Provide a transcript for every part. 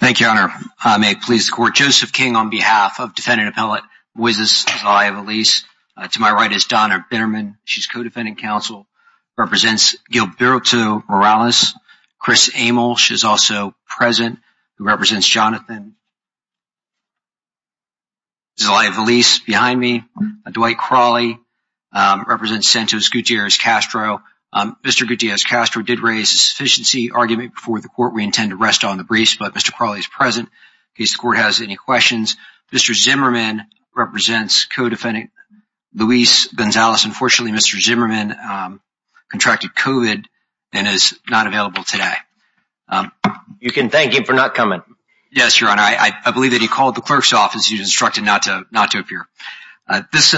Thank you, Your Honor. May it please the Court, Joseph King on behalf of defendant appellate Moises Zelaya-Veliz. To my right is Donna Bitterman. She's co-defending counsel, represents Gilberto Morales. Chris Amel, she's also present, who represents Jonathan Zelaya-Veliz. Behind me, Dwight Crawley represents Santos Gutierrez Castro. Mr. Gutierrez Castro did raise a sufficiency argument before the Court. We intend to rest on the briefs, but Mr. Crawley is present in case the Court has any questions. Mr. Zimmerman represents co-defendant Luis Gonzalez. Unfortunately, Mr. Zimmerman contracted COVID and is not available today. You can thank him for not coming. Yes, Your Honor. I believe that he called the clerk's office. He was instructed not to appear. This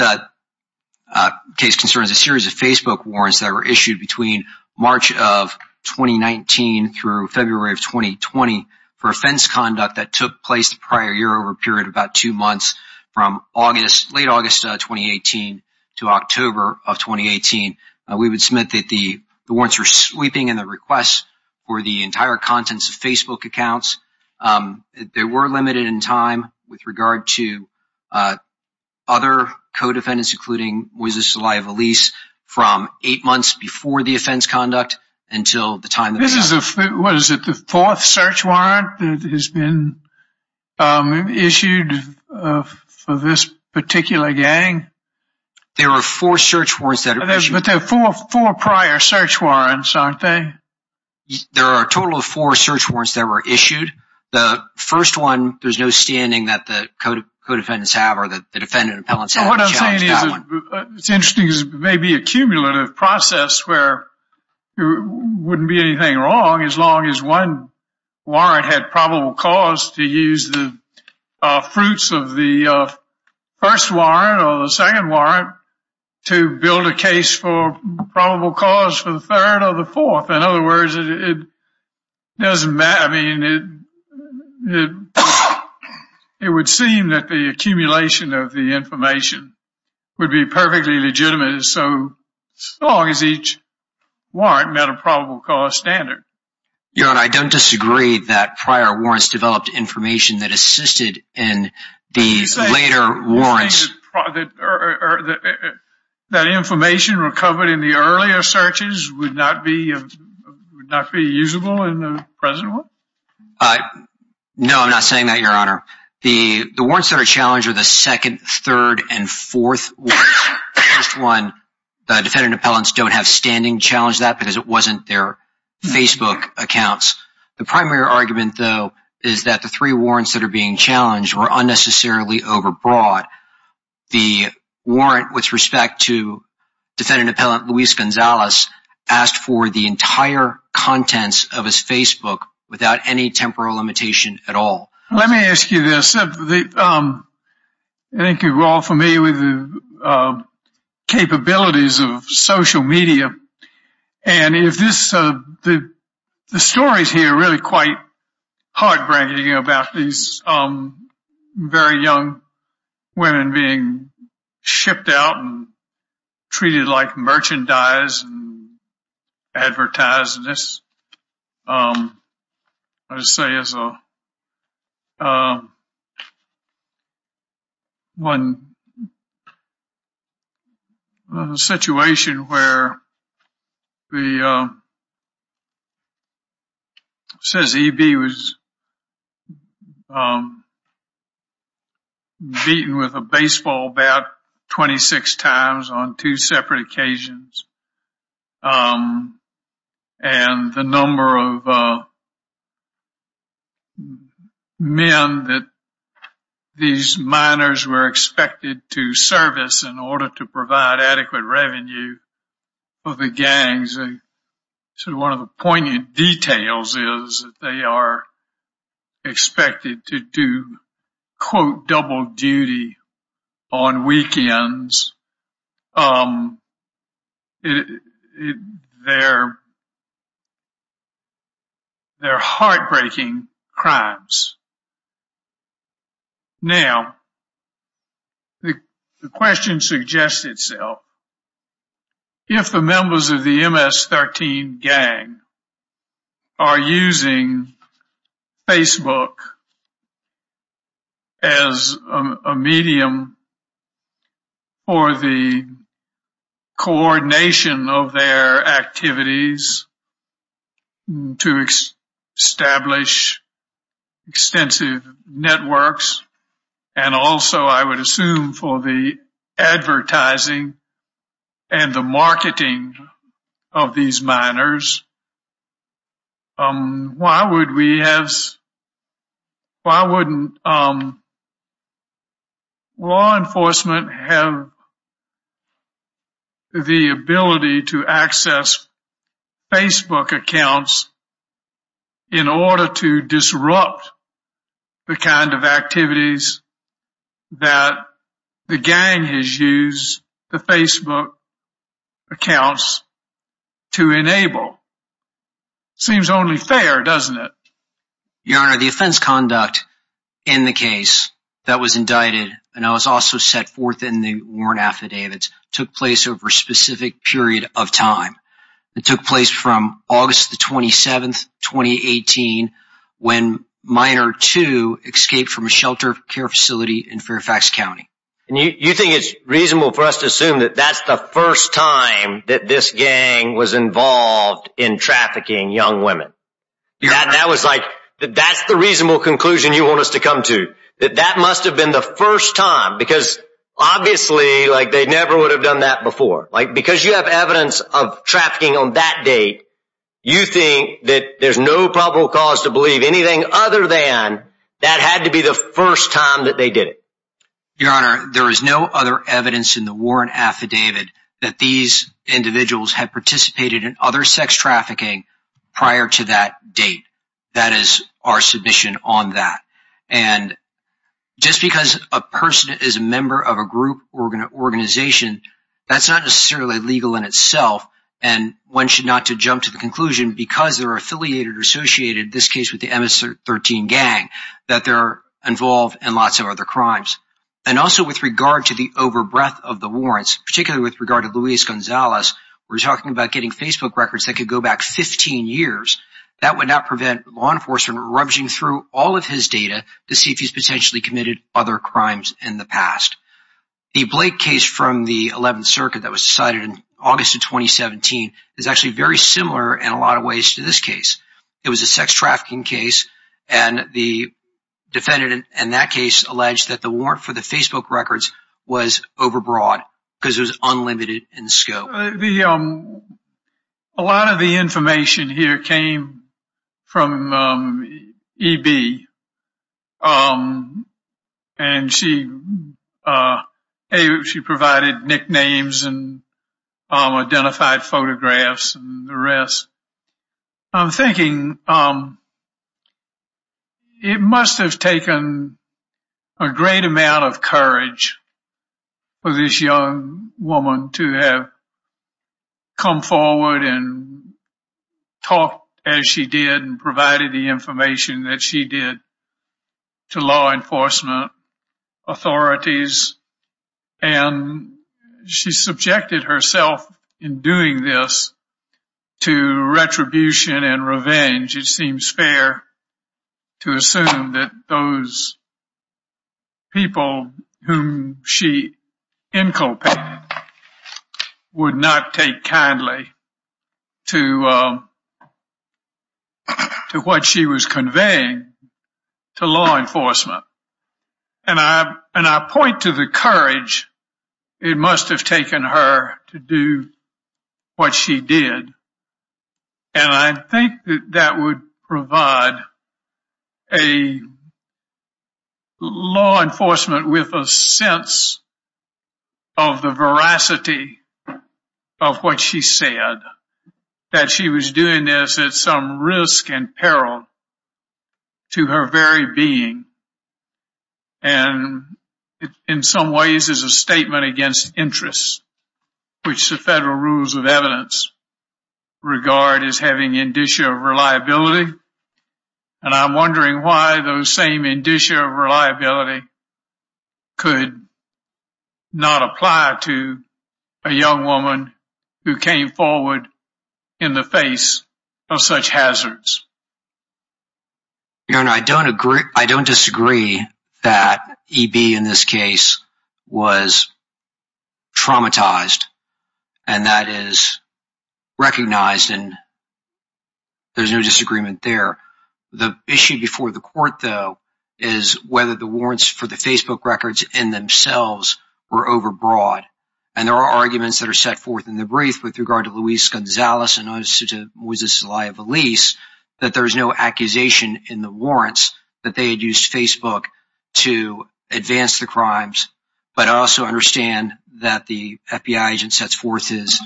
case concerns a series of Facebook warrants that were issued between March of 2019 through February of 2020 for offense conduct that took place the prior year-over-period of about two months from late August 2018 to October of 2018. We would submit that the warrants were sweeping and the requests were the entire contents of Facebook accounts. They were limited in time with regard to other co-defendants, including Luis Zelaya-Veliz, from eight months before the offense conduct until the time that... This is, what is it, the fourth search warrant that has been issued for this particular gang? There were four search warrants that were issued. But there are four prior search warrants, aren't there? There are a total of four search warrants that were issued. The first one, there's no standing that the co-defendants have or that the defendant appellants have. What I'm saying is it's interesting. It may be a cumulative process where there wouldn't be anything wrong as long as one warrant had probable cause to use the fruits of the first warrant or the second warrant to build a case for probable cause for the third or the fourth. In other words, it doesn't matter. I mean, it would seem that the accumulation of the information would be perfectly legitimate as long as each warrant met a probable cause standard. Your Honor, I don't disagree that prior warrants developed information that assisted in the later warrants. That information recovered in the earlier searches would not be usable in the present one? No, I'm not saying that, Your Honor. The warrants that are challenged are the second, third, and fourth warrants. The first one, the defendant appellants don't have standing challenge that because it wasn't their Facebook accounts. The primary argument, though, is that the three warrants that are being challenged were unnecessarily overbought. The warrant with respect to defendant appellant Luis Gonzalez asked for the entire contents of his Facebook without any temporal limitation at all. Let me ask you this. I think you're all familiar with the capabilities of social media. And the stories here are really quite heartbreaking about these very young women being shipped out and treated like merchandise and advertised. And this, I would say, is a situation where it says EB was beaten with a baseball bat 26 times on two separate occasions. And the number of men that these minors were expected to service in order to provide adequate revenue for the gangs. One of the poignant details is that they are expected to do, quote, double duty on weekends. They're heartbreaking crimes. Now. The question suggests itself. If the members of the MS-13 gang are using Facebook as a medium for the coordination of their activities to establish extensive networks. And also, I would assume for the advertising and the marketing of these minors. Why would we have. Why wouldn't. Law enforcement have. The ability to access. Facebook accounts. In order to disrupt. The kind of activities. That the gang has used the Facebook. Accounts. To enable. Seems only fair, doesn't it? Your Honor, the offense conduct in the case that was indicted. And I was also set forth in the warrant affidavits took place over a specific period of time. It took place from August the 27th, 2018, when minor to escape from a shelter care facility in Fairfax County. And you think it's reasonable for us to assume that that's the first time that this gang was involved in trafficking young women. That was like, that's the reasonable conclusion you want us to come to. That that must have been the first time because obviously like they never would have done that before. Because you have evidence of trafficking on that date. You think that there's no probable cause to believe anything other than that had to be the first time that they did it. Your Honor, there is no other evidence in the warrant affidavit that these individuals have participated in other sex trafficking prior to that date. That is our submission on that. And just because a person is a member of a group organization, that's not necessarily legal in itself. And one should not to jump to the conclusion because they're affiliated or associated, this case with the MS-13 gang, that they're involved in lots of other crimes. And also with regard to the over breadth of the warrants, particularly with regard to Luis Gonzalez, we're talking about getting Facebook records that could go back 15 years. That would not prevent law enforcement rummaging through all of his data to see if he's potentially committed other crimes in the past. The Blake case from the 11th Circuit that was decided in August of 2017 is actually very similar in a lot of ways to this case. It was a sex trafficking case and the defendant in that case alleged that the warrant for the Facebook records was over broad because it was unlimited in scope. A lot of the information here came from EB. And she provided nicknames and identified photographs and the rest. I'm thinking it must have taken a great amount of courage for this young woman to have come forward and talk as she did and provided the information that she did to law enforcement authorities. And she subjected herself in doing this to retribution and revenge. It seems fair to assume that those people whom she inculcated would not take kindly to what she was conveying to law enforcement. And I point to the courage it must have taken her to do what she did. And I think that would provide a law enforcement with a sense of the veracity of what she said. That she was doing this at some risk and peril to her very being. And in some ways it's a statement against interests, which the federal rules of evidence regard as having an indicia of reliability. And I'm wondering why the same indicia of reliability could not apply to a young woman who came forward in the face of such hazards. I don't disagree that EB in this case was traumatized. And that is recognized and there's no disagreement there. The issue before the court, though, is whether the warrants for the Facebook records in themselves were overbroad. And there are arguments that are set forth in the brief with regard to Luis Gonzalez and Moises Zelaya Valiz. That there's no accusation in the warrants that they had used Facebook to advance the crimes. But I also understand that the FBI agent sets forth his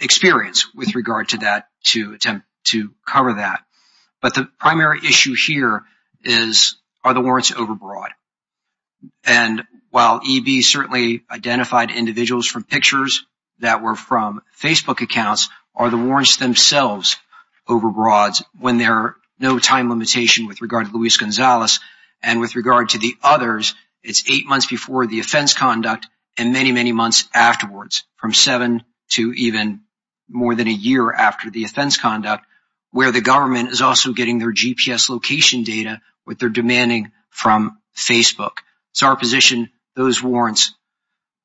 experience with regard to that to attempt to cover that. But the primary issue here is are the warrants overbroad? And while EB certainly identified individuals from pictures that were from Facebook accounts. Are the warrants themselves overbroads when there are no time limitation with regard to Luis Gonzalez. And with regard to the others, it's eight months before the offense conduct and many, many months afterwards. From seven to even more than a year after the offense conduct. Where the government is also getting their GPS location data with their demanding from Facebook. It's our position those warrants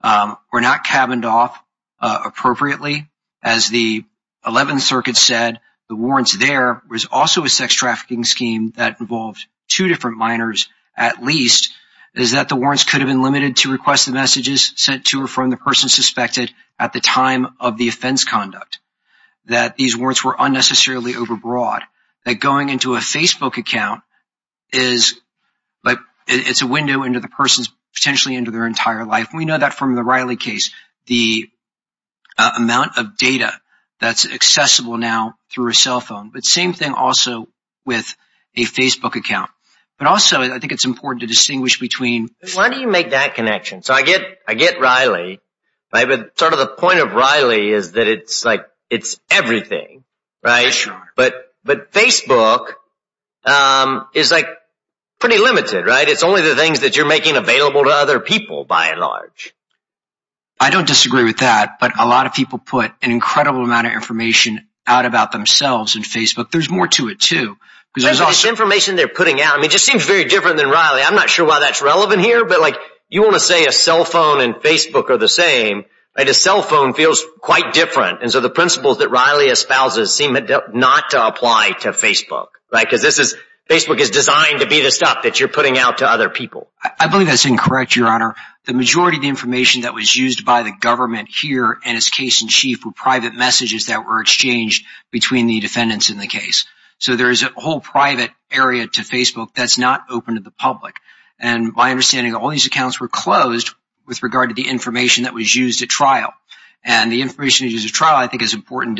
were not cabined off appropriately. As the 11th Circuit said, the warrants there was also a sex trafficking scheme that involved two different minors at least. Is that the warrants could have been limited to request the messages sent to or from the person suspected at the time of the offense conduct. That these warrants were unnecessarily overbroad. That going into a Facebook account is like it's a window into the person's potentially into their entire life. We know that from the Riley case. The amount of data that's accessible now through a cell phone. But same thing also with a Facebook account. But also I think it's important to distinguish between. Why do you make that connection? So I get Riley. But sort of the point of Riley is that it's like it's everything. But Facebook is like pretty limited. It's only the things that you're making available to other people by and large. I don't disagree with that. But a lot of people put an incredible amount of information out about themselves in Facebook. There's more to it too. It just seems very different than Riley. I'm not sure why that's relevant here. But you want to say a cell phone and Facebook are the same. A cell phone feels quite different. And so the principles that Riley espouses seem not to apply to Facebook. Because Facebook is designed to be the stuff that you're putting out to other people. I believe that's incorrect, Your Honor. The majority of the information that was used by the government here and its case in chief were private messages that were exchanged between the defendants in the case. So there is a whole private area to Facebook that's not open to the public. And my understanding, all these accounts were closed with regard to the information that was used at trial. And the information used at trial, I think, is important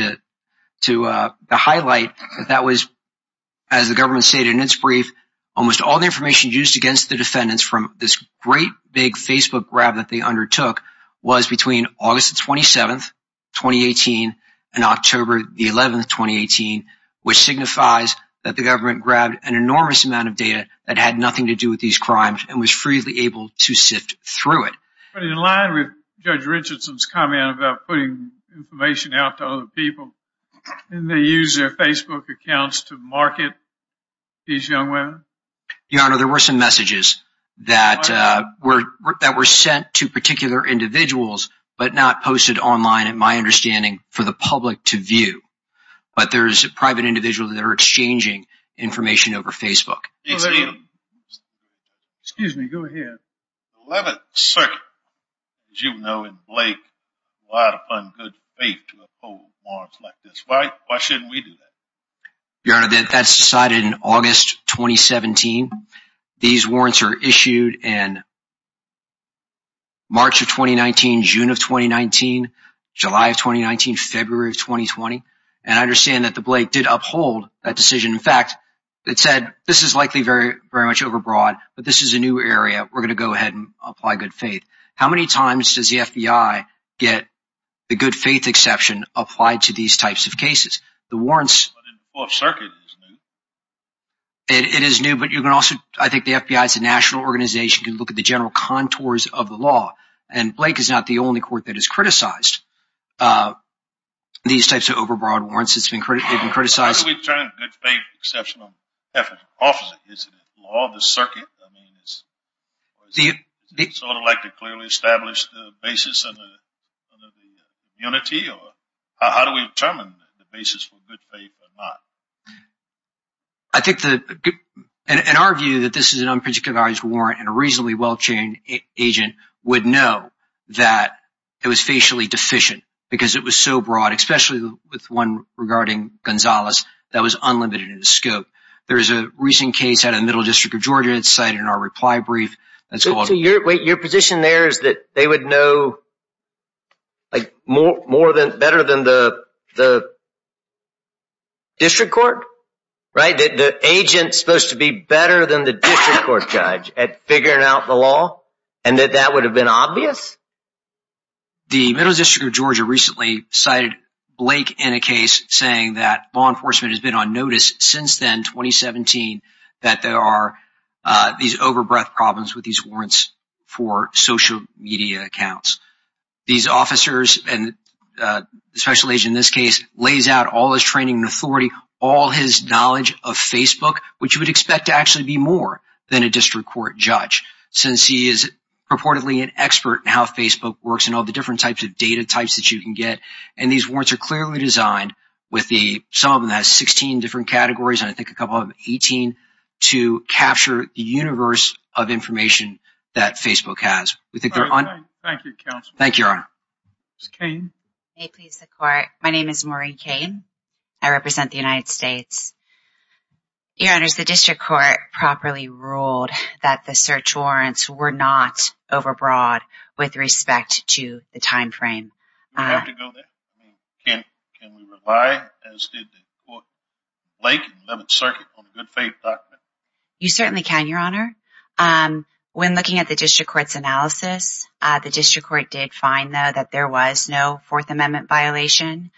to highlight that that was, as the government stated in its brief, almost all the information used against the defendants from this great big Facebook grab that they undertook was between August 27, 2018, and October 11, 2018, which signifies that the government grabbed an enormous amount of data that had nothing to do with these crimes and was freely able to sift through it. But in line with Judge Richardson's comment about putting information out to other people, didn't they use their Facebook accounts to market these young women? Your Honor, there were some messages that were sent to particular individuals, but not posted online, in my understanding, for the public to view. But there's private individuals that are exchanging information over Facebook. Excuse me, go ahead. The 11th Circuit, as you know, in Blake, relied upon good faith to uphold warrants like this. Why shouldn't we do that? Your Honor, that's decided in August 2017. These warrants are issued in March of 2019, June of 2019, July of 2019, February of 2020. And I understand that the Blake did uphold that decision. In fact, it said this is likely very much overbroad, but this is a new area. We're going to go ahead and apply good faith. How many times does the FBI get the good faith exception applied to these types of cases? But in the 4th Circuit, it's new. It is new, but I think the FBI is a national organization. You can look at the general contours of the law. And Blake is not the only court that has criticized these types of overbroad warrants. How do we determine good faith exception on behalf of an officer? Is it a law of the circuit? Do you sort of like to clearly establish the basis of the unity or how do we determine the basis for good faith or not? I think that in our view that this is an unpredictable warrant and a reasonably well-trained agent would know that it was facially deficient because it was so broad, especially with one regarding Gonzalez, that was unlimited in the scope. There is a recent case out of the Middle District of Georgia. It's cited in our reply brief. Wait, your position there is that they would know more better than the district court? That the agent is supposed to be better than the district court judge at figuring out the law and that that would have been obvious? The Middle District of Georgia recently cited Blake in a case saying that law enforcement has been on notice since then, 2017, that there are these overbreath problems with these warrants for social media accounts. These officers and especially in this case lays out all his training authority, all his knowledge of Facebook, which you would expect to actually be more than a district court judge, since he is purportedly an expert in how Facebook works and all the different types of data types that you can get. And these warrants are clearly designed with the some of them has 16 different categories. And I think a couple of 18 to capture the universe of information that Facebook has. We think they're on. Thank you. Thank you. My name is Maureen Kane. I represent the United States. Your Honor, the district court properly ruled that the search warrants were not overbroad with respect to the time frame. Do we have to go there? Can we rely, as did Blake in the 11th Circuit, on a good faith document? You certainly can, Your Honor. When looking at the district court's analysis, the district court did find, though, that there was no Fourth Amendment violation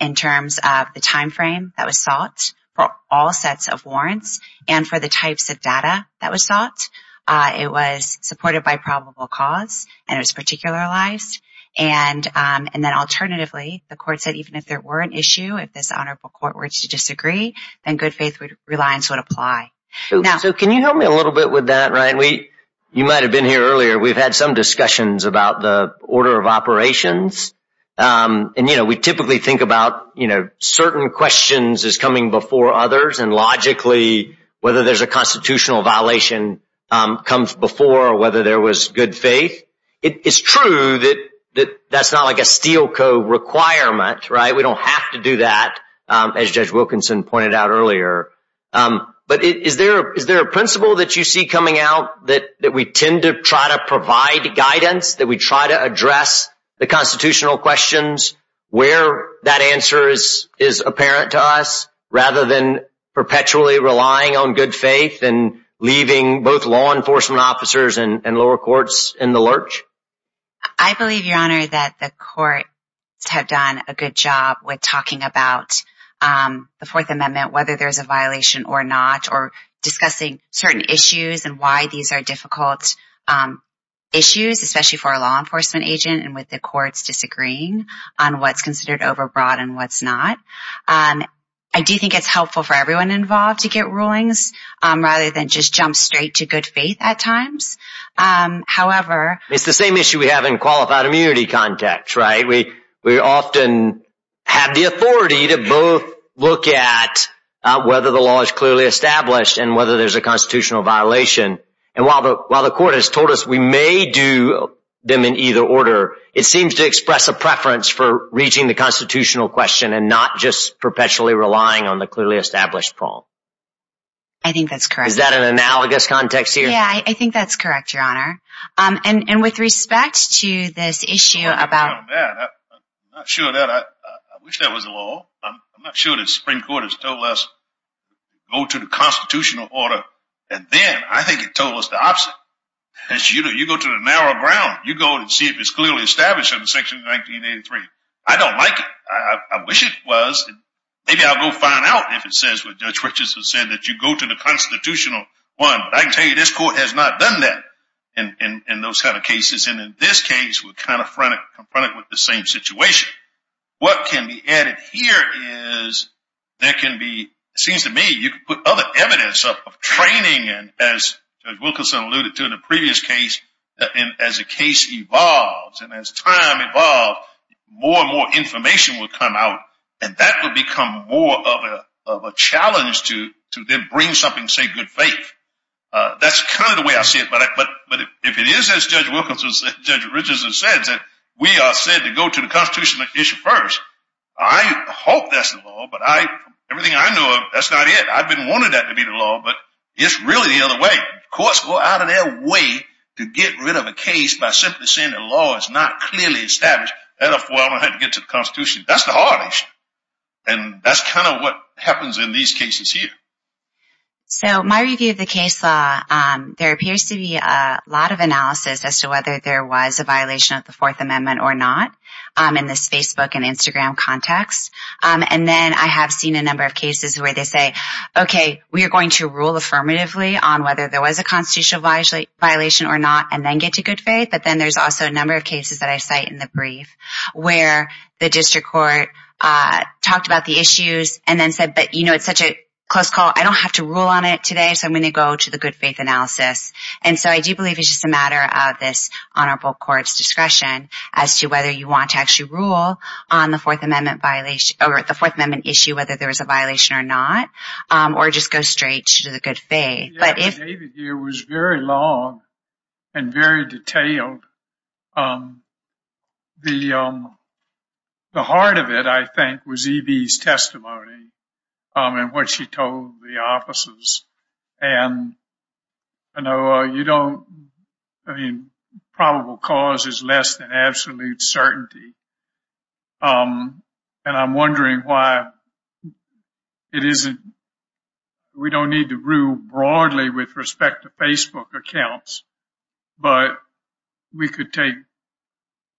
in terms of the time frame that was sought for all sets of warrants. And for the types of data that was sought, it was supported by probable cause and it was particular lies. And and then alternatively, the court said, even if there were an issue, if this honorable court were to disagree and good faith reliance would apply. So can you help me a little bit with that? Right. We you might have been here earlier. We've had some discussions about the order of operations. And, you know, we typically think about, you know, certain questions is coming before others. And logically, whether there's a constitutional violation comes before or whether there was good faith. It is true that that's not like a steel code requirement. Right. We don't have to do that, as Judge Wilkinson pointed out earlier. But is there is there a principle that you see coming out that that we tend to try to provide guidance, that we try to address the constitutional questions where that answer is, is apparent to us rather than perpetually relying on good faith and leaving both law enforcement officers and lower courts in the lurch? I believe, Your Honor, that the courts have done a good job with talking about the Fourth Amendment, whether there's a violation or not, or discussing certain issues and why these are difficult issues, especially for a law enforcement agent and with the courts disagreeing on what's considered overbroad and what's not. I do think it's helpful for everyone involved to get rulings rather than just jump straight to good faith at times. However, it's the same issue we have in qualified immunity context. Right. We often have the authority to both look at whether the law is clearly established and whether there's a constitutional violation. And while the court has told us we may do them in either order, it seems to express a preference for reaching the constitutional question and not just perpetually relying on the clearly established prong. I think that's correct. Is that an analogous context here? Yeah, I think that's correct, Your Honor. And with respect to this issue about... I'm not sure of that. I wish that was the law. I'm not sure the Supreme Court has told us to go to the constitutional order. And then I think it told us the opposite. You go to the narrow ground. You go and see if it's clearly established under Section 1983. I don't like it. I wish it was. Maybe I'll go find out if it says what Judge Richardson said, that you go to the constitutional one. But I can tell you this court has not done that in those kind of cases. And in this case, we're kind of confronted with the same situation. What can be added here is there can be... It seems to me you could put other evidence of training in, as Judge Wilkinson alluded to in the previous case. And as a case evolves and as time evolves, more and more information will come out. And that will become more of a challenge to then bring something, say, good faith. That's kind of the way I see it. But if it is as Judge Wilkinson said, Judge Richardson said, that we are said to go to the constitutional issue first. I hope that's the law, but everything I know of, that's not it. I've been wanting that to be the law, but it's really the other way. Courts go out of their way to get rid of a case by simply saying the law is not clearly established. That's the hard issue. And that's kind of what happens in these cases here. So my review of the case law, there appears to be a lot of analysis as to whether there was a violation of the Fourth Amendment or not in this Facebook and Instagram context. And then I have seen a number of cases where they say, OK, we are going to rule affirmatively on whether there was a constitutional violation or not and then get to good faith. But then there's also a number of cases that I cite in the brief where the district court talked about the issues and then said, but, you know, it's such a close call. I don't have to rule on it today. So I'm going to go to the good faith analysis. And so I do believe it's just a matter of this honorable court's discretion as to whether you want to actually rule on the Fourth Amendment violation or the Fourth Amendment issue, whether there was a violation or not, or just go straight to the good faith. David here was very long and very detailed. The heart of it, I think, was Evie's testimony and what she told the officers. And I know you don't. I mean, probable cause is less than absolute certainty. And I'm wondering why it isn't. We don't need to rule broadly with respect to Facebook accounts, but we could take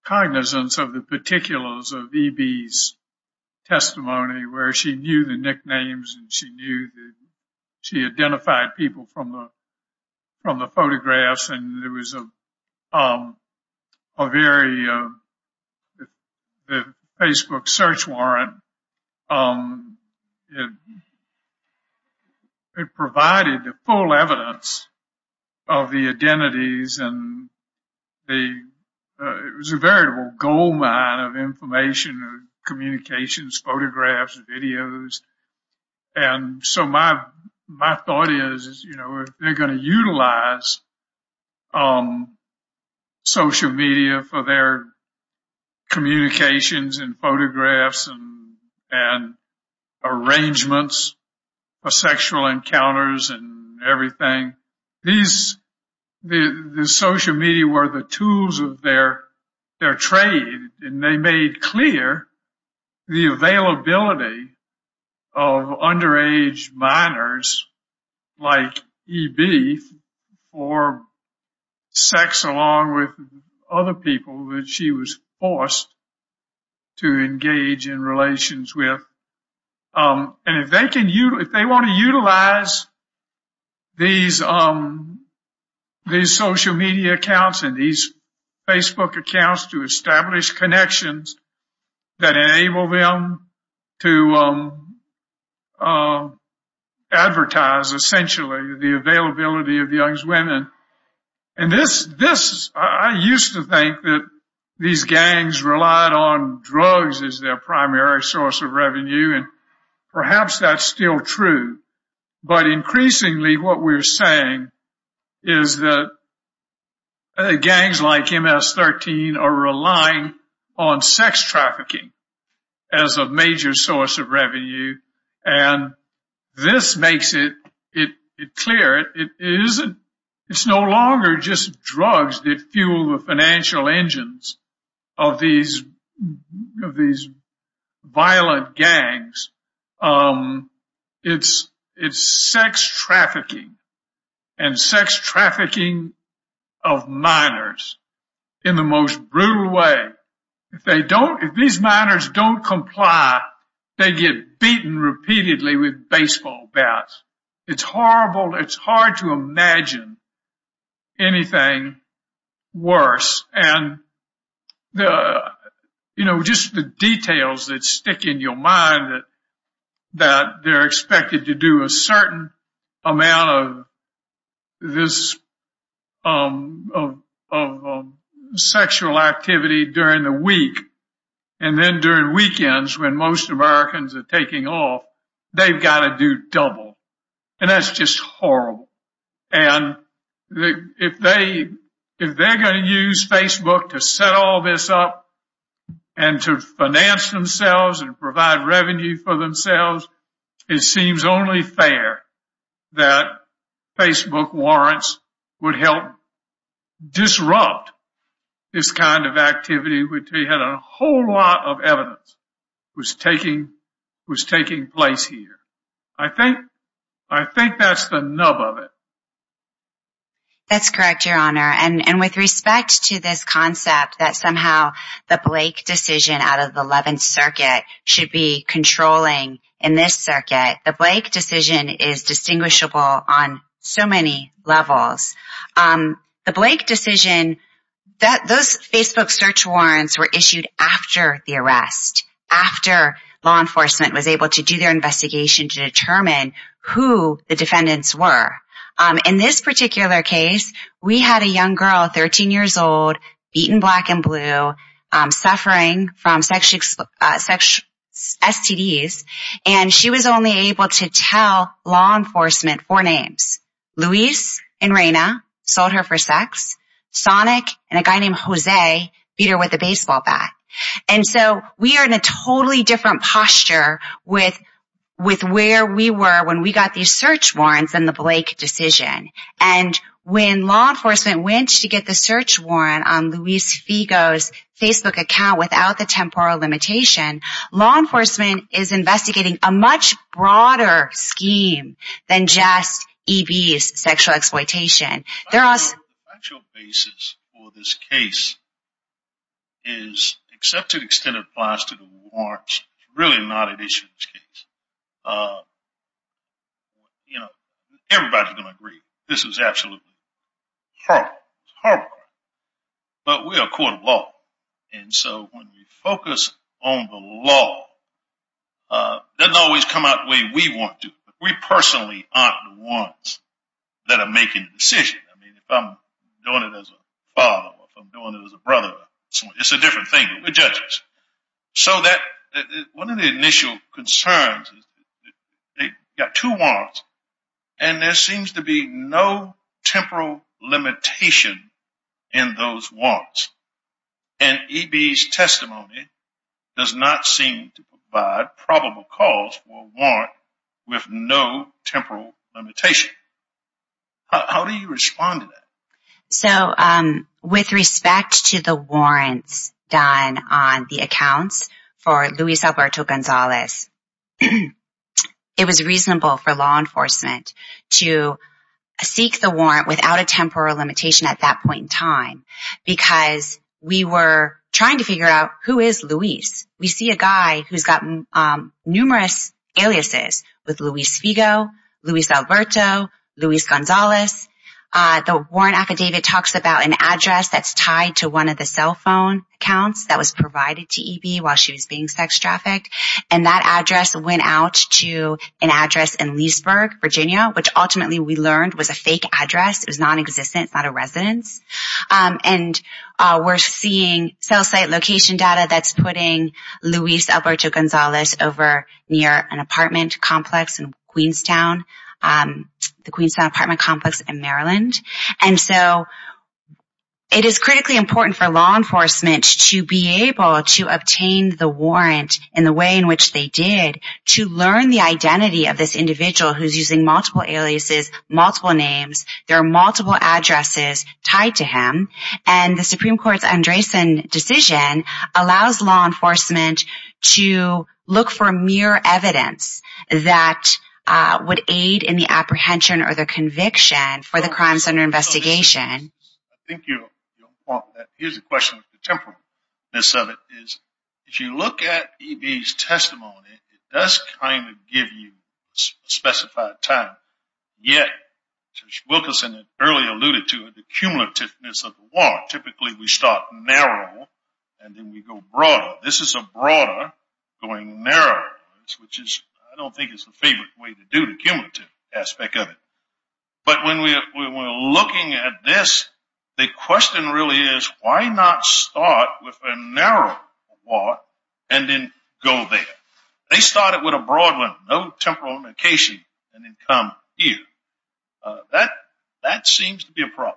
cognizance of the particulars of Evie's testimony where she knew the nicknames and she knew that she identified people from the from the photographs. And there was a very Facebook search warrant. It provided the full evidence of the identities and the it was a variable goldmine of information, communications, photographs, videos. And so my my thought is, you know, they're going to utilize social media for their communications and photographs and arrangements of sexual encounters and everything. These the social media were the tools of their their trade, and they made clear the availability of underage minors like Evie for sex, along with other people that she was forced to engage in relations with. And if they can, if they want to utilize these these social media accounts and these Facebook accounts to establish connections that enable them to advertise essentially the availability of young women. And and this this I used to think that these gangs relied on drugs as their primary source of revenue, and perhaps that's still true. But increasingly, what we're saying is that gangs like MS-13 are relying on sex trafficking as a major source of revenue. And this makes it clear it isn't it's no longer just drugs that fuel the financial engines of these of these violent gangs. It's it's sex trafficking and sex trafficking of minors in the most brutal way. If they don't if these minors don't comply, they get beaten repeatedly with baseball bats. It's horrible. It's hard to imagine anything worse. And, you know, just the details that stick in your mind that that they're expected to do a certain amount of this of sexual activity during the week and then during weekends when most Americans are taking off, they've got to do double. And that's just horrible. And if they if they're going to use Facebook to set all this up and to finance themselves and provide revenue for themselves, it seems only fair that Facebook warrants would help disrupt this kind of activity. We had a whole lot of evidence was taking was taking place here. I think I think that's the nub of it. That's correct, Your Honor. And with respect to this concept that somehow the Blake decision out of the 11th Circuit should be controlling in this circuit, the Blake decision is distinguishable on so many levels. The Blake decision that those Facebook search warrants were issued after the arrest, after law enforcement was able to do their investigation to determine who the defendants were. In this particular case, we had a young girl, 13 years old, beaten black and blue, suffering from sexual sexual STDs, and she was only able to tell law enforcement four names. Luis and Raina sold her for sex. Sonic and a guy named Jose beat her with a baseball bat. And so we are in a totally different posture with with where we were when we got these search warrants and the Blake decision. And when law enforcement went to get the search warrant on Luis Figo's Facebook account without the temporal limitation, law enforcement is investigating a much broader scheme than just EB's sexual exploitation. The actual basis for this case is, except to the extent it applies to the warrants, it's really not an issue in this case. You know, everybody's going to agree, this is absolutely horrible. But we are a court of law, and so when we focus on the law, it doesn't always come out the way we want to. We personally aren't the ones that are making the decision. I mean, if I'm doing it as a father, if I'm doing it as a brother, it's a different thing, but we're judges. So one of the initial concerns is that you've got two warrants, and there seems to be no temporal limitation in those warrants. And EB's testimony does not seem to provide probable cause for a warrant with no temporal limitation. How do you respond to that? So with respect to the warrants done on the accounts for Luis Alberto Gonzalez, it was reasonable for law enforcement to seek the warrant without a temporal limitation at that point in time, because we were trying to figure out who is Luis. We see a guy who's got numerous aliases with Luis Figo, Luis Alberto, Luis Gonzalez. The warrant affidavit talks about an address that's tied to one of the cell phone accounts that was provided to EB while she was being sex trafficked. And that address went out to an address in Leesburg, Virginia, which ultimately we learned was a fake address. It was nonexistent. It's not a residence. And we're seeing cell site location data that's putting Luis Alberto Gonzalez over near an apartment complex in Queenstown, the Queenstown apartment complex in Maryland. And so it is critically important for law enforcement to be able to obtain the warrant in the way in which they did to learn the identity of this individual who's using multiple aliases, multiple names. There are multiple addresses tied to him. And the Supreme Court's Andresen decision allows law enforcement to look for mere evidence that would aid in the apprehension or the conviction for the crimes under investigation. Here's a question with the temporariness of it. If you look at EB's testimony, it does kind of give you specified time. Yet, as Wilkerson earlier alluded to, the cumulativeness of the warrant. Typically, we start narrow and then we go broader. This is a broader going narrower, which I don't think is the favorite way to do the cumulative aspect of it. But when we're looking at this, the question really is why not start with a narrow warrant and then go there? They started with a broad one, no temporal indication, and then come here. That seems to be a problem.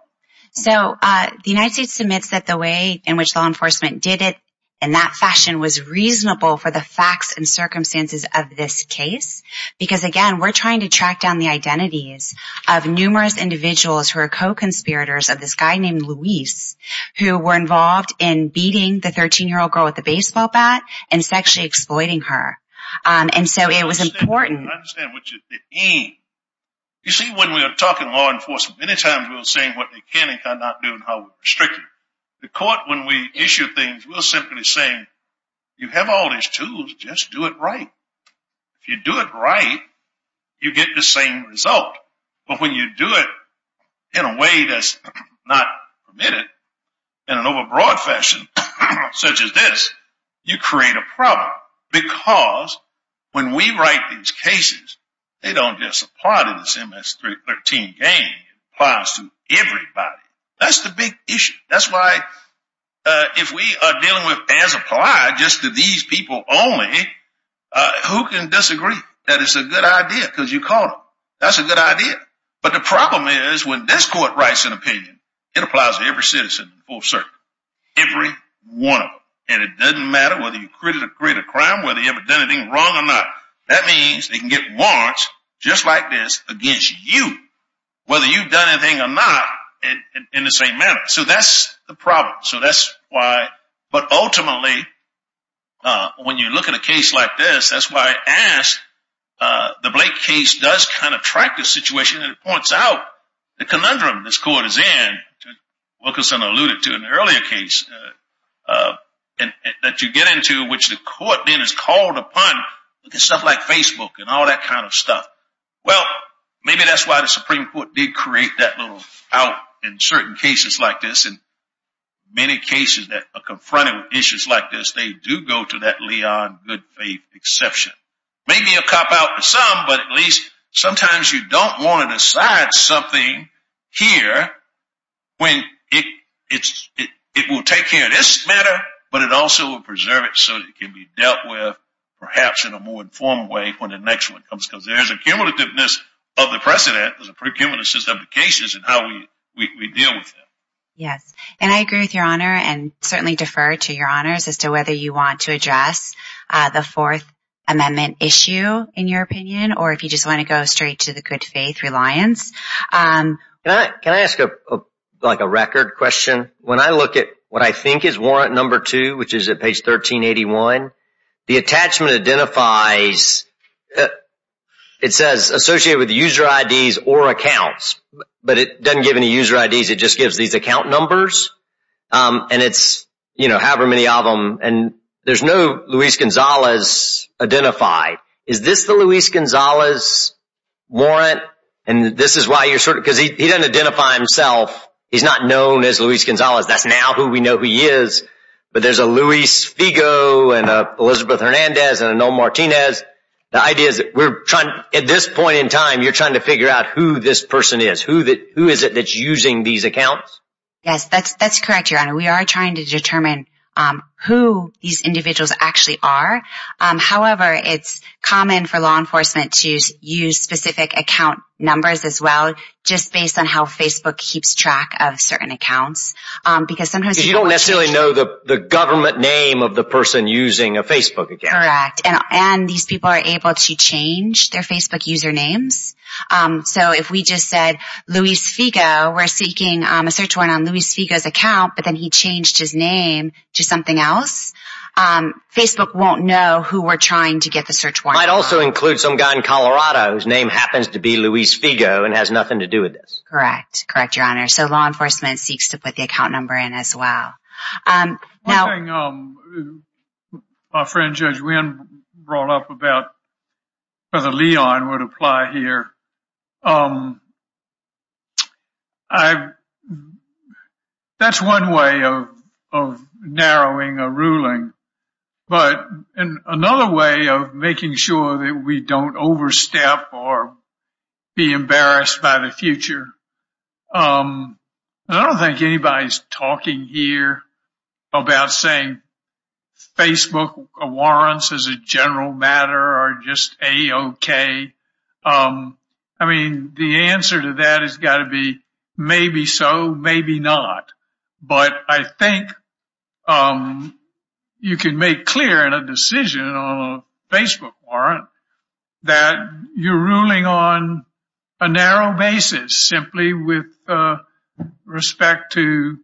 So the United States submits that the way in which law enforcement did it in that fashion was reasonable for the facts and circumstances of this case. Because, again, we're trying to track down the identities of numerous individuals who are co-conspirators of this guy named Luis, who were involved in beating the 13-year-old girl with the baseball bat and sexually exploiting her. And so it was important. I understand what you're saying. You see, when we are talking law enforcement, many times we're saying what they can and cannot do and how we restrict them. The court, when we issue things, we're simply saying, you have all these tools, just do it right. If you do it right, you get the same result. But when you do it in a way that's not permitted, in an overbroad fashion such as this, you create a problem. Because when we write these cases, they don't just apply to this MS-13 gang. It applies to everybody. That's the big issue. That's why if we are dealing with as applied just to these people only, who can disagree that it's a good idea because you caught them? That's a good idea. But the problem is when this court writes an opinion, it applies to every citizen in full circle. Every one of them. And it doesn't matter whether you created a crime, whether you ever done anything wrong or not. That means they can get warrants just like this against you, whether you've done anything or not, in the same manner. So that's the problem. But ultimately, when you look at a case like this, that's why I asked. The Blake case does kind of track the situation and it points out the conundrum this court is in. Wilkinson alluded to it in the earlier case that you get into, which the court then is called upon to do stuff like Facebook and all that kind of stuff. Well, maybe that's why the Supreme Court did create that little out in certain cases like this. And many cases that are confronted with issues like this, they do go to that Leon good faith exception. Maybe a cop out for some, but at least sometimes you don't want to decide something here when it will take care of this matter, but it also will preserve it so it can be dealt with perhaps in a more informed way when the next one comes. Because there's a cumulativeness of the precedent, there's a pre-cumulativeness of the cases and how we deal with them. Yes, and I agree with your honor and certainly defer to your honors as to whether you want to address the Fourth Amendment issue, in your opinion, or if you just want to go straight to the good faith reliance. Can I ask a record question? When I look at what I think is warrant number two, which is at page 1381, the attachment identifies, it says associated with user IDs or accounts, but it doesn't give any user IDs, it just gives these account numbers. And it's, you know, however many of them, and there's no Luis Gonzalez identified. Is this the Luis Gonzalez warrant? And this is why you're sort of, because he doesn't identify himself. He's not known as Luis Gonzalez. That's now who we know who he is. But there's a Luis Figo and Elizabeth Hernandez and Noel Martinez. The idea is that we're trying at this point in time, you're trying to figure out who this person is, who is it that's using these accounts? Yes, that's correct, your honor. We are trying to determine who these individuals actually are. However, it's common for law enforcement to use specific account numbers as well, just based on how Facebook keeps track of certain accounts. Because you don't necessarily know the government name of the person using a Facebook account. Correct. And these people are able to change their Facebook usernames. So if we just said Luis Figo, we're seeking a search warrant on Luis Figo's account, but then he changed his name to something else, Facebook won't know who we're trying to get the search warrant on. Might also include some guy in Colorado whose name happens to be Luis Figo and has nothing to do with this. Correct. Correct, your honor. So law enforcement seeks to put the account number in as well. My friend Judge Wynn brought up about whether Leon would apply here. That's one way of narrowing a ruling. But another way of making sure that we don't overstep or be embarrassed by the future. I don't think anybody's talking here about saying Facebook warrants as a general matter are just A-OK. I mean, the answer to that has got to be maybe so, maybe not. But I think you can make clear in a decision on a Facebook warrant that you're ruling on a narrow basis simply with respect to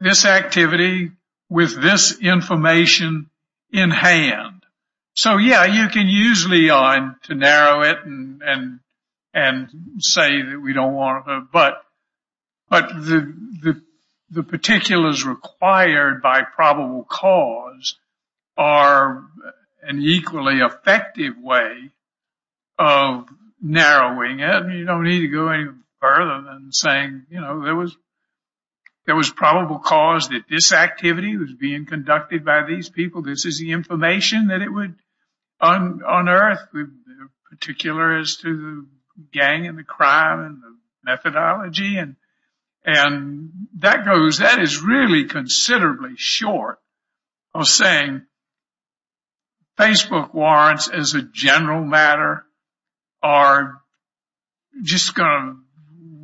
this activity with this information in hand. So, yeah, you can use Leon to narrow it and say that we don't want to, but the particulars required by probable cause are an equally effective way of narrowing it. You don't need to go any further than saying, you know, there was probable cause that this activity was being conducted by these people. This is the information that it would unearth. The particulars to the gang and the crime and the methodology and that goes, that is really considerably short of saying Facebook warrants as a general matter are just going to,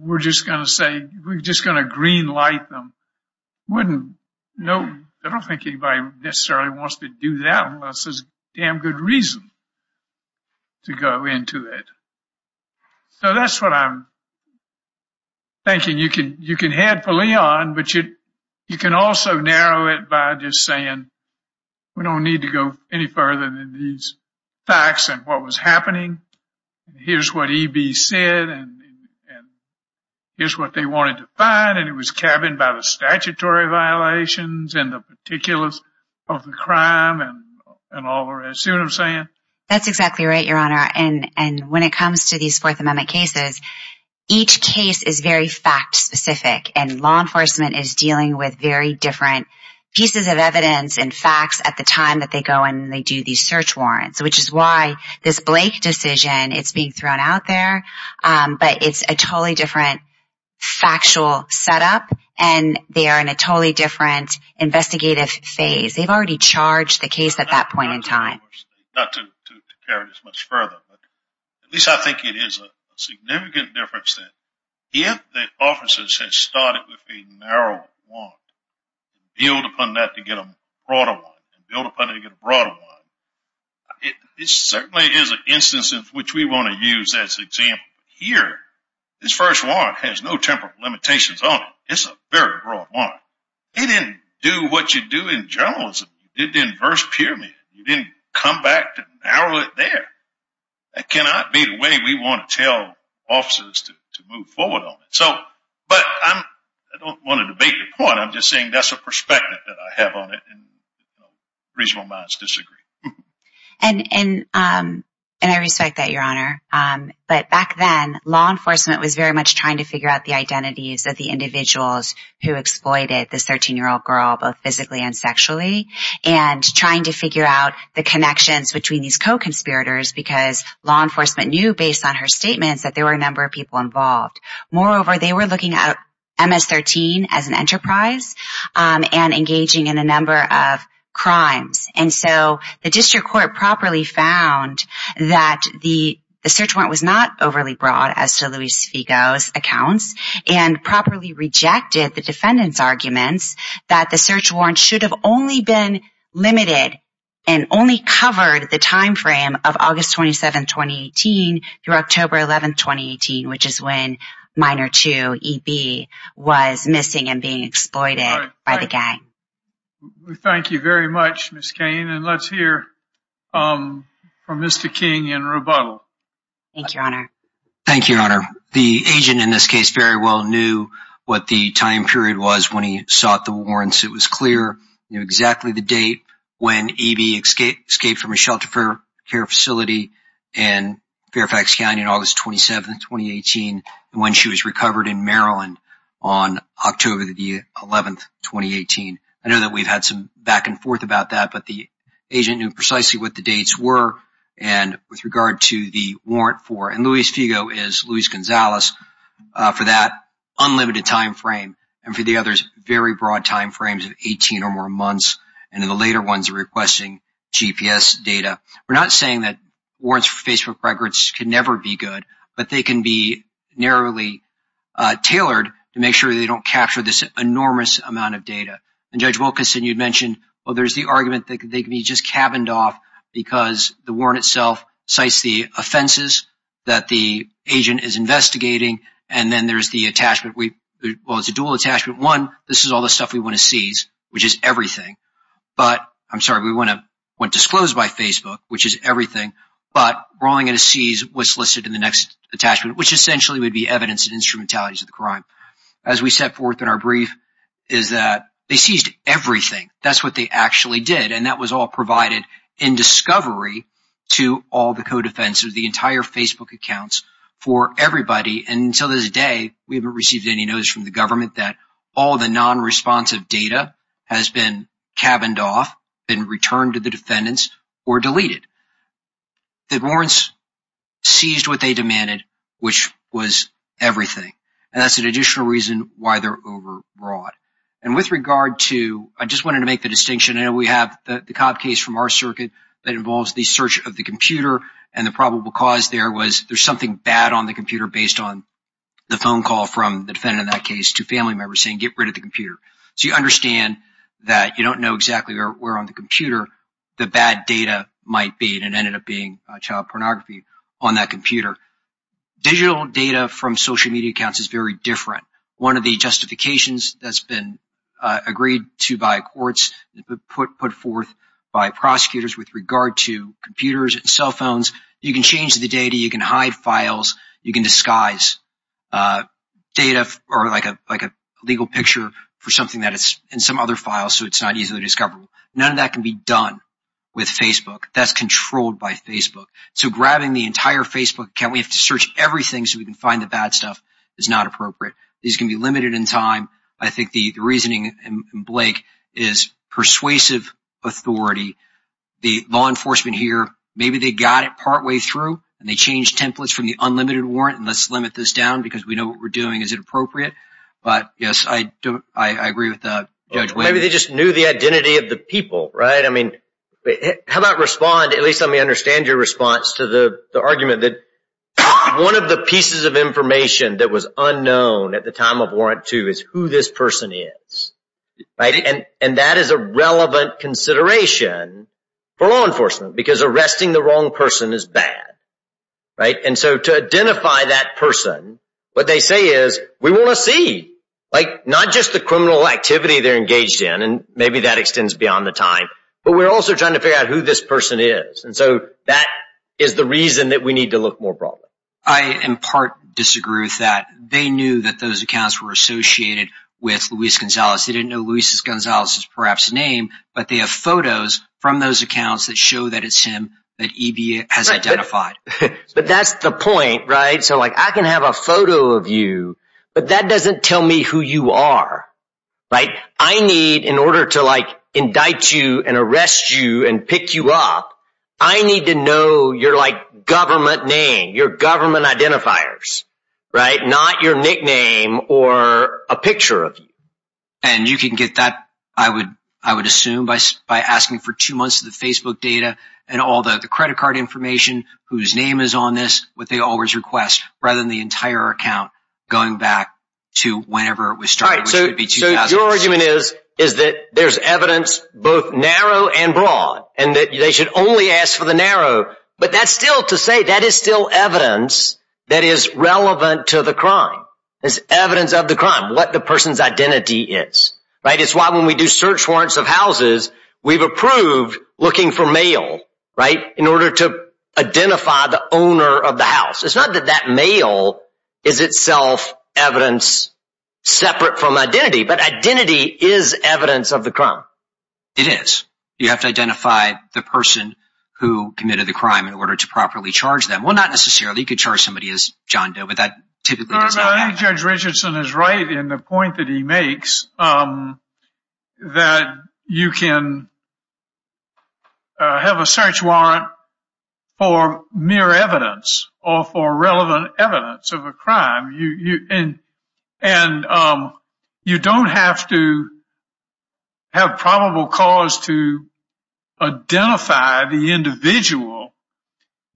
we're just going to say, we're just going to green light them. I don't think anybody necessarily wants to do that unless there's damn good reason to go into it. So that's what I'm thinking you can head for Leon, but you can also narrow it by just saying we don't need to go any further than these facts and what was happening. Here's what EB said, and here's what they wanted to find, and it was covered by the statutory violations and the particulars of the crime and all the rest. You know what I'm saying? That's exactly right, Your Honor. And when it comes to these Fourth Amendment cases, each case is very fact specific, and law enforcement is dealing with very different pieces of evidence and facts at the time that they go and they do these search warrants, which is why this Blake decision, it's being thrown out there, but it's a totally different factual setup, and they are in a totally different investigative phase. They've already charged the case at that point in time. Not to carry this much further, but at least I think it is a significant difference that if the officers had started with a narrow warrant and build upon that to get a broader warrant and build upon it to get a broader warrant, it certainly is an instance of which we want to use as an example. Here, this first warrant has no temporal limitations on it. It's a very broad warrant. You didn't do what you do in journalism. You did the inverse pyramid. You didn't come back to narrow it there. That cannot be the way we want to tell officers to move forward on it. But I don't want to debate your point. I'm just saying that's a perspective that I have on it, and reasonable minds disagree. And I respect that, Your Honor. But back then, law enforcement was very much trying to figure out the identities of the individuals who exploited this 13-year-old girl, both physically and sexually, and trying to figure out the connections between these co-conspirators because law enforcement knew, based on her statements, that there were a number of people involved. Moreover, they were looking at MS-13 as an enterprise and engaging in a number of crimes. And so the district court properly found that the search warrant was not overly broad, as to Luis Figo's accounts, and properly rejected the defendant's arguments that the search warrant should have only been limited and only covered the timeframe of August 27, 2018, through October 11, 2018, which is when Minor 2EB was missing and being exploited by the gang. Thank you very much, Ms. Cain. And let's hear from Mr. King in rebuttal. Thank you, Your Honor. Thank you, Your Honor. The agent in this case very well knew what the time period was when he sought the warrants. He knew exactly the date when EB escaped from a shelter care facility in Fairfax County on August 27, 2018, and when she was recovered in Maryland on October 11, 2018. I know that we've had some back and forth about that, but the agent knew precisely what the dates were. And with regard to the warrant for – and Luis Figo is Luis Gonzalez for that unlimited timeframe, and for the others, very broad timeframes of 18 or more months, and in the later ones, requesting GPS data. We're not saying that warrants for Facebook records can never be good, but they can be narrowly tailored to make sure they don't capture this enormous amount of data. And Judge Wilkerson, you mentioned, well, there's the argument that they can be just cabined off because the warrant itself cites the offenses that the agent is investigating, and then there's the attachment. Well, it's a dual attachment. One, this is all the stuff we want to seize, which is everything. But – I'm sorry, we want to – want disclosed by Facebook, which is everything, but we're only going to seize what's listed in the next attachment, which essentially would be evidence and instrumentalities of the crime. As we set forth in our brief is that they seized everything. That's what they actually did, and that was all provided in discovery to all the co-defenders, the entire Facebook accounts for everybody. And until this day, we haven't received any notice from the government that all the non-responsive data has been cabined off, been returned to the defendants, or deleted. The warrants seized what they demanded, which was everything. And that's an additional reason why they're overbroad. And with regard to – I just wanted to make the distinction. I know we have the Cobb case from our circuit that involves the search of the computer, and the probable cause there was there's something bad on the computer based on the phone call from the defendant in that case to family members saying, get rid of the computer. So you understand that you don't know exactly where on the computer the bad data might be, and it ended up being child pornography on that computer. Digital data from social media accounts is very different. One of the justifications that's been agreed to by courts, put forth by prosecutors with regard to computers and cell phones, you can change the data. You can hide files. You can disguise data or like a legal picture for something that is in some other file, so it's not easily discoverable. None of that can be done with Facebook. That's controlled by Facebook. So grabbing the entire Facebook account, we have to search everything so we can find the bad stuff, is not appropriate. These can be limited in time. I think the reasoning, Blake, is persuasive authority. The law enforcement here, maybe they got it partway through, and they changed templates from the unlimited warrant, and let's limit this down because we know what we're doing is inappropriate. But yes, I agree with Judge Wade. Maybe they just knew the identity of the people, right? How about respond? At least let me understand your response to the argument that one of the pieces of information that was unknown at the time of Warrant 2 is who this person is. And that is a relevant consideration for law enforcement because arresting the wrong person is bad. And so to identify that person, what they say is, we want to see. Not just the criminal activity they're engaged in, and maybe that extends beyond the time, but we're also trying to figure out who this person is. And so that is the reason that we need to look more broadly. I in part disagree with that. They knew that those accounts were associated with Luis Gonzalez. They didn't know Luis Gonzalez's perhaps name, but they have photos from those accounts that show that it's him that EB has identified. But that's the point, right? So I can have a photo of you, but that doesn't tell me who you are, right? I need, in order to indict you and arrest you and pick you up, I need to know your government name, your government identifiers, right? Not your nickname or a picture of you. And you can get that, I would assume, by asking for two months of the Facebook data and all the credit card information, whose name is on this, what they always request, rather than the entire account going back to whenever it was started, which would be 2006. So your argument is that there's evidence both narrow and broad, and that they should only ask for the narrow. But that's still to say that is still evidence that is relevant to the crime. It's evidence of the crime, what the person's identity is, right? It's why when we do search warrants of houses, we've approved looking for male, right, in order to identify the owner of the house. It's not that that male is itself evidence separate from identity, but identity is evidence of the crime. It is. You have to identify the person who committed the crime in order to properly charge them. Well, not necessarily. You could charge somebody as John Doe, but that typically does not happen. I think Judge Richardson is right in the point that he makes, that you can have a search warrant for mere evidence or for relevant evidence of a crime. And you don't have to have probable cause to identify the individual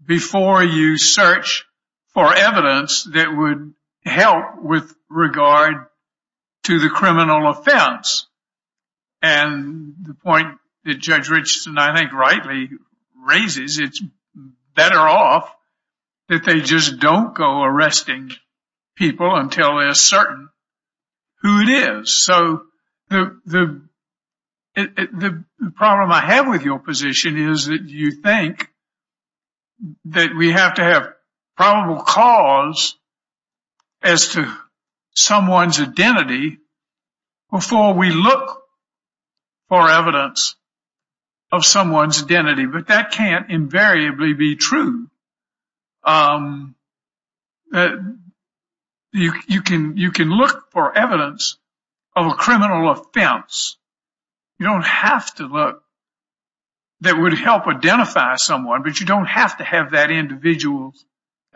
before you search for evidence that would help with regard to the criminal offense. And the point that Judge Richardson, I think, rightly raises, it's better off that they just don't go arresting people until they're certain who it is. So the problem I have with your position is that you think that we have to have probable cause as to someone's identity before we look for evidence of someone's identity. But that can't invariably be true. You can look for evidence of a criminal offense. You don't have to look that would help identify someone, but you don't have to have that individual's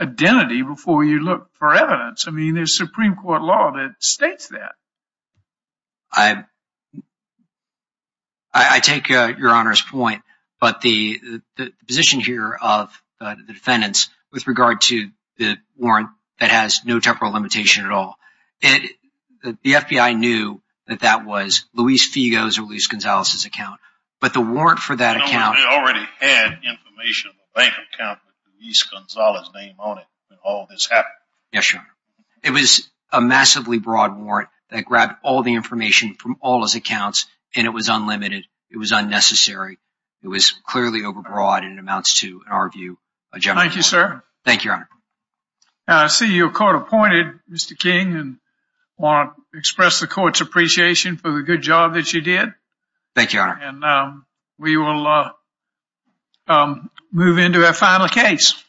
identity before you look for evidence. I mean, there's Supreme Court law that states that. I take your Honor's point, but the position here of the defendants with regard to the warrant that has no temporal limitation at all, the FBI knew that that was Luis Figo's or Luis Gonzalez's account. But the warrant for that account… They already had information in the bank account with Luis Gonzalez's name on it when all this happened. Yes, Your Honor. It was a massively broad warrant that grabbed all the information from all his accounts, and it was unlimited. It was unnecessary. It was clearly overbroad, and it amounts to, in our view, a general… Thank you, sir. Thank you, Your Honor. I see you're court-appointed, Mr. King, and I want to express the court's appreciation for the good job that you did. Thank you, Your Honor. And we will move into our final case.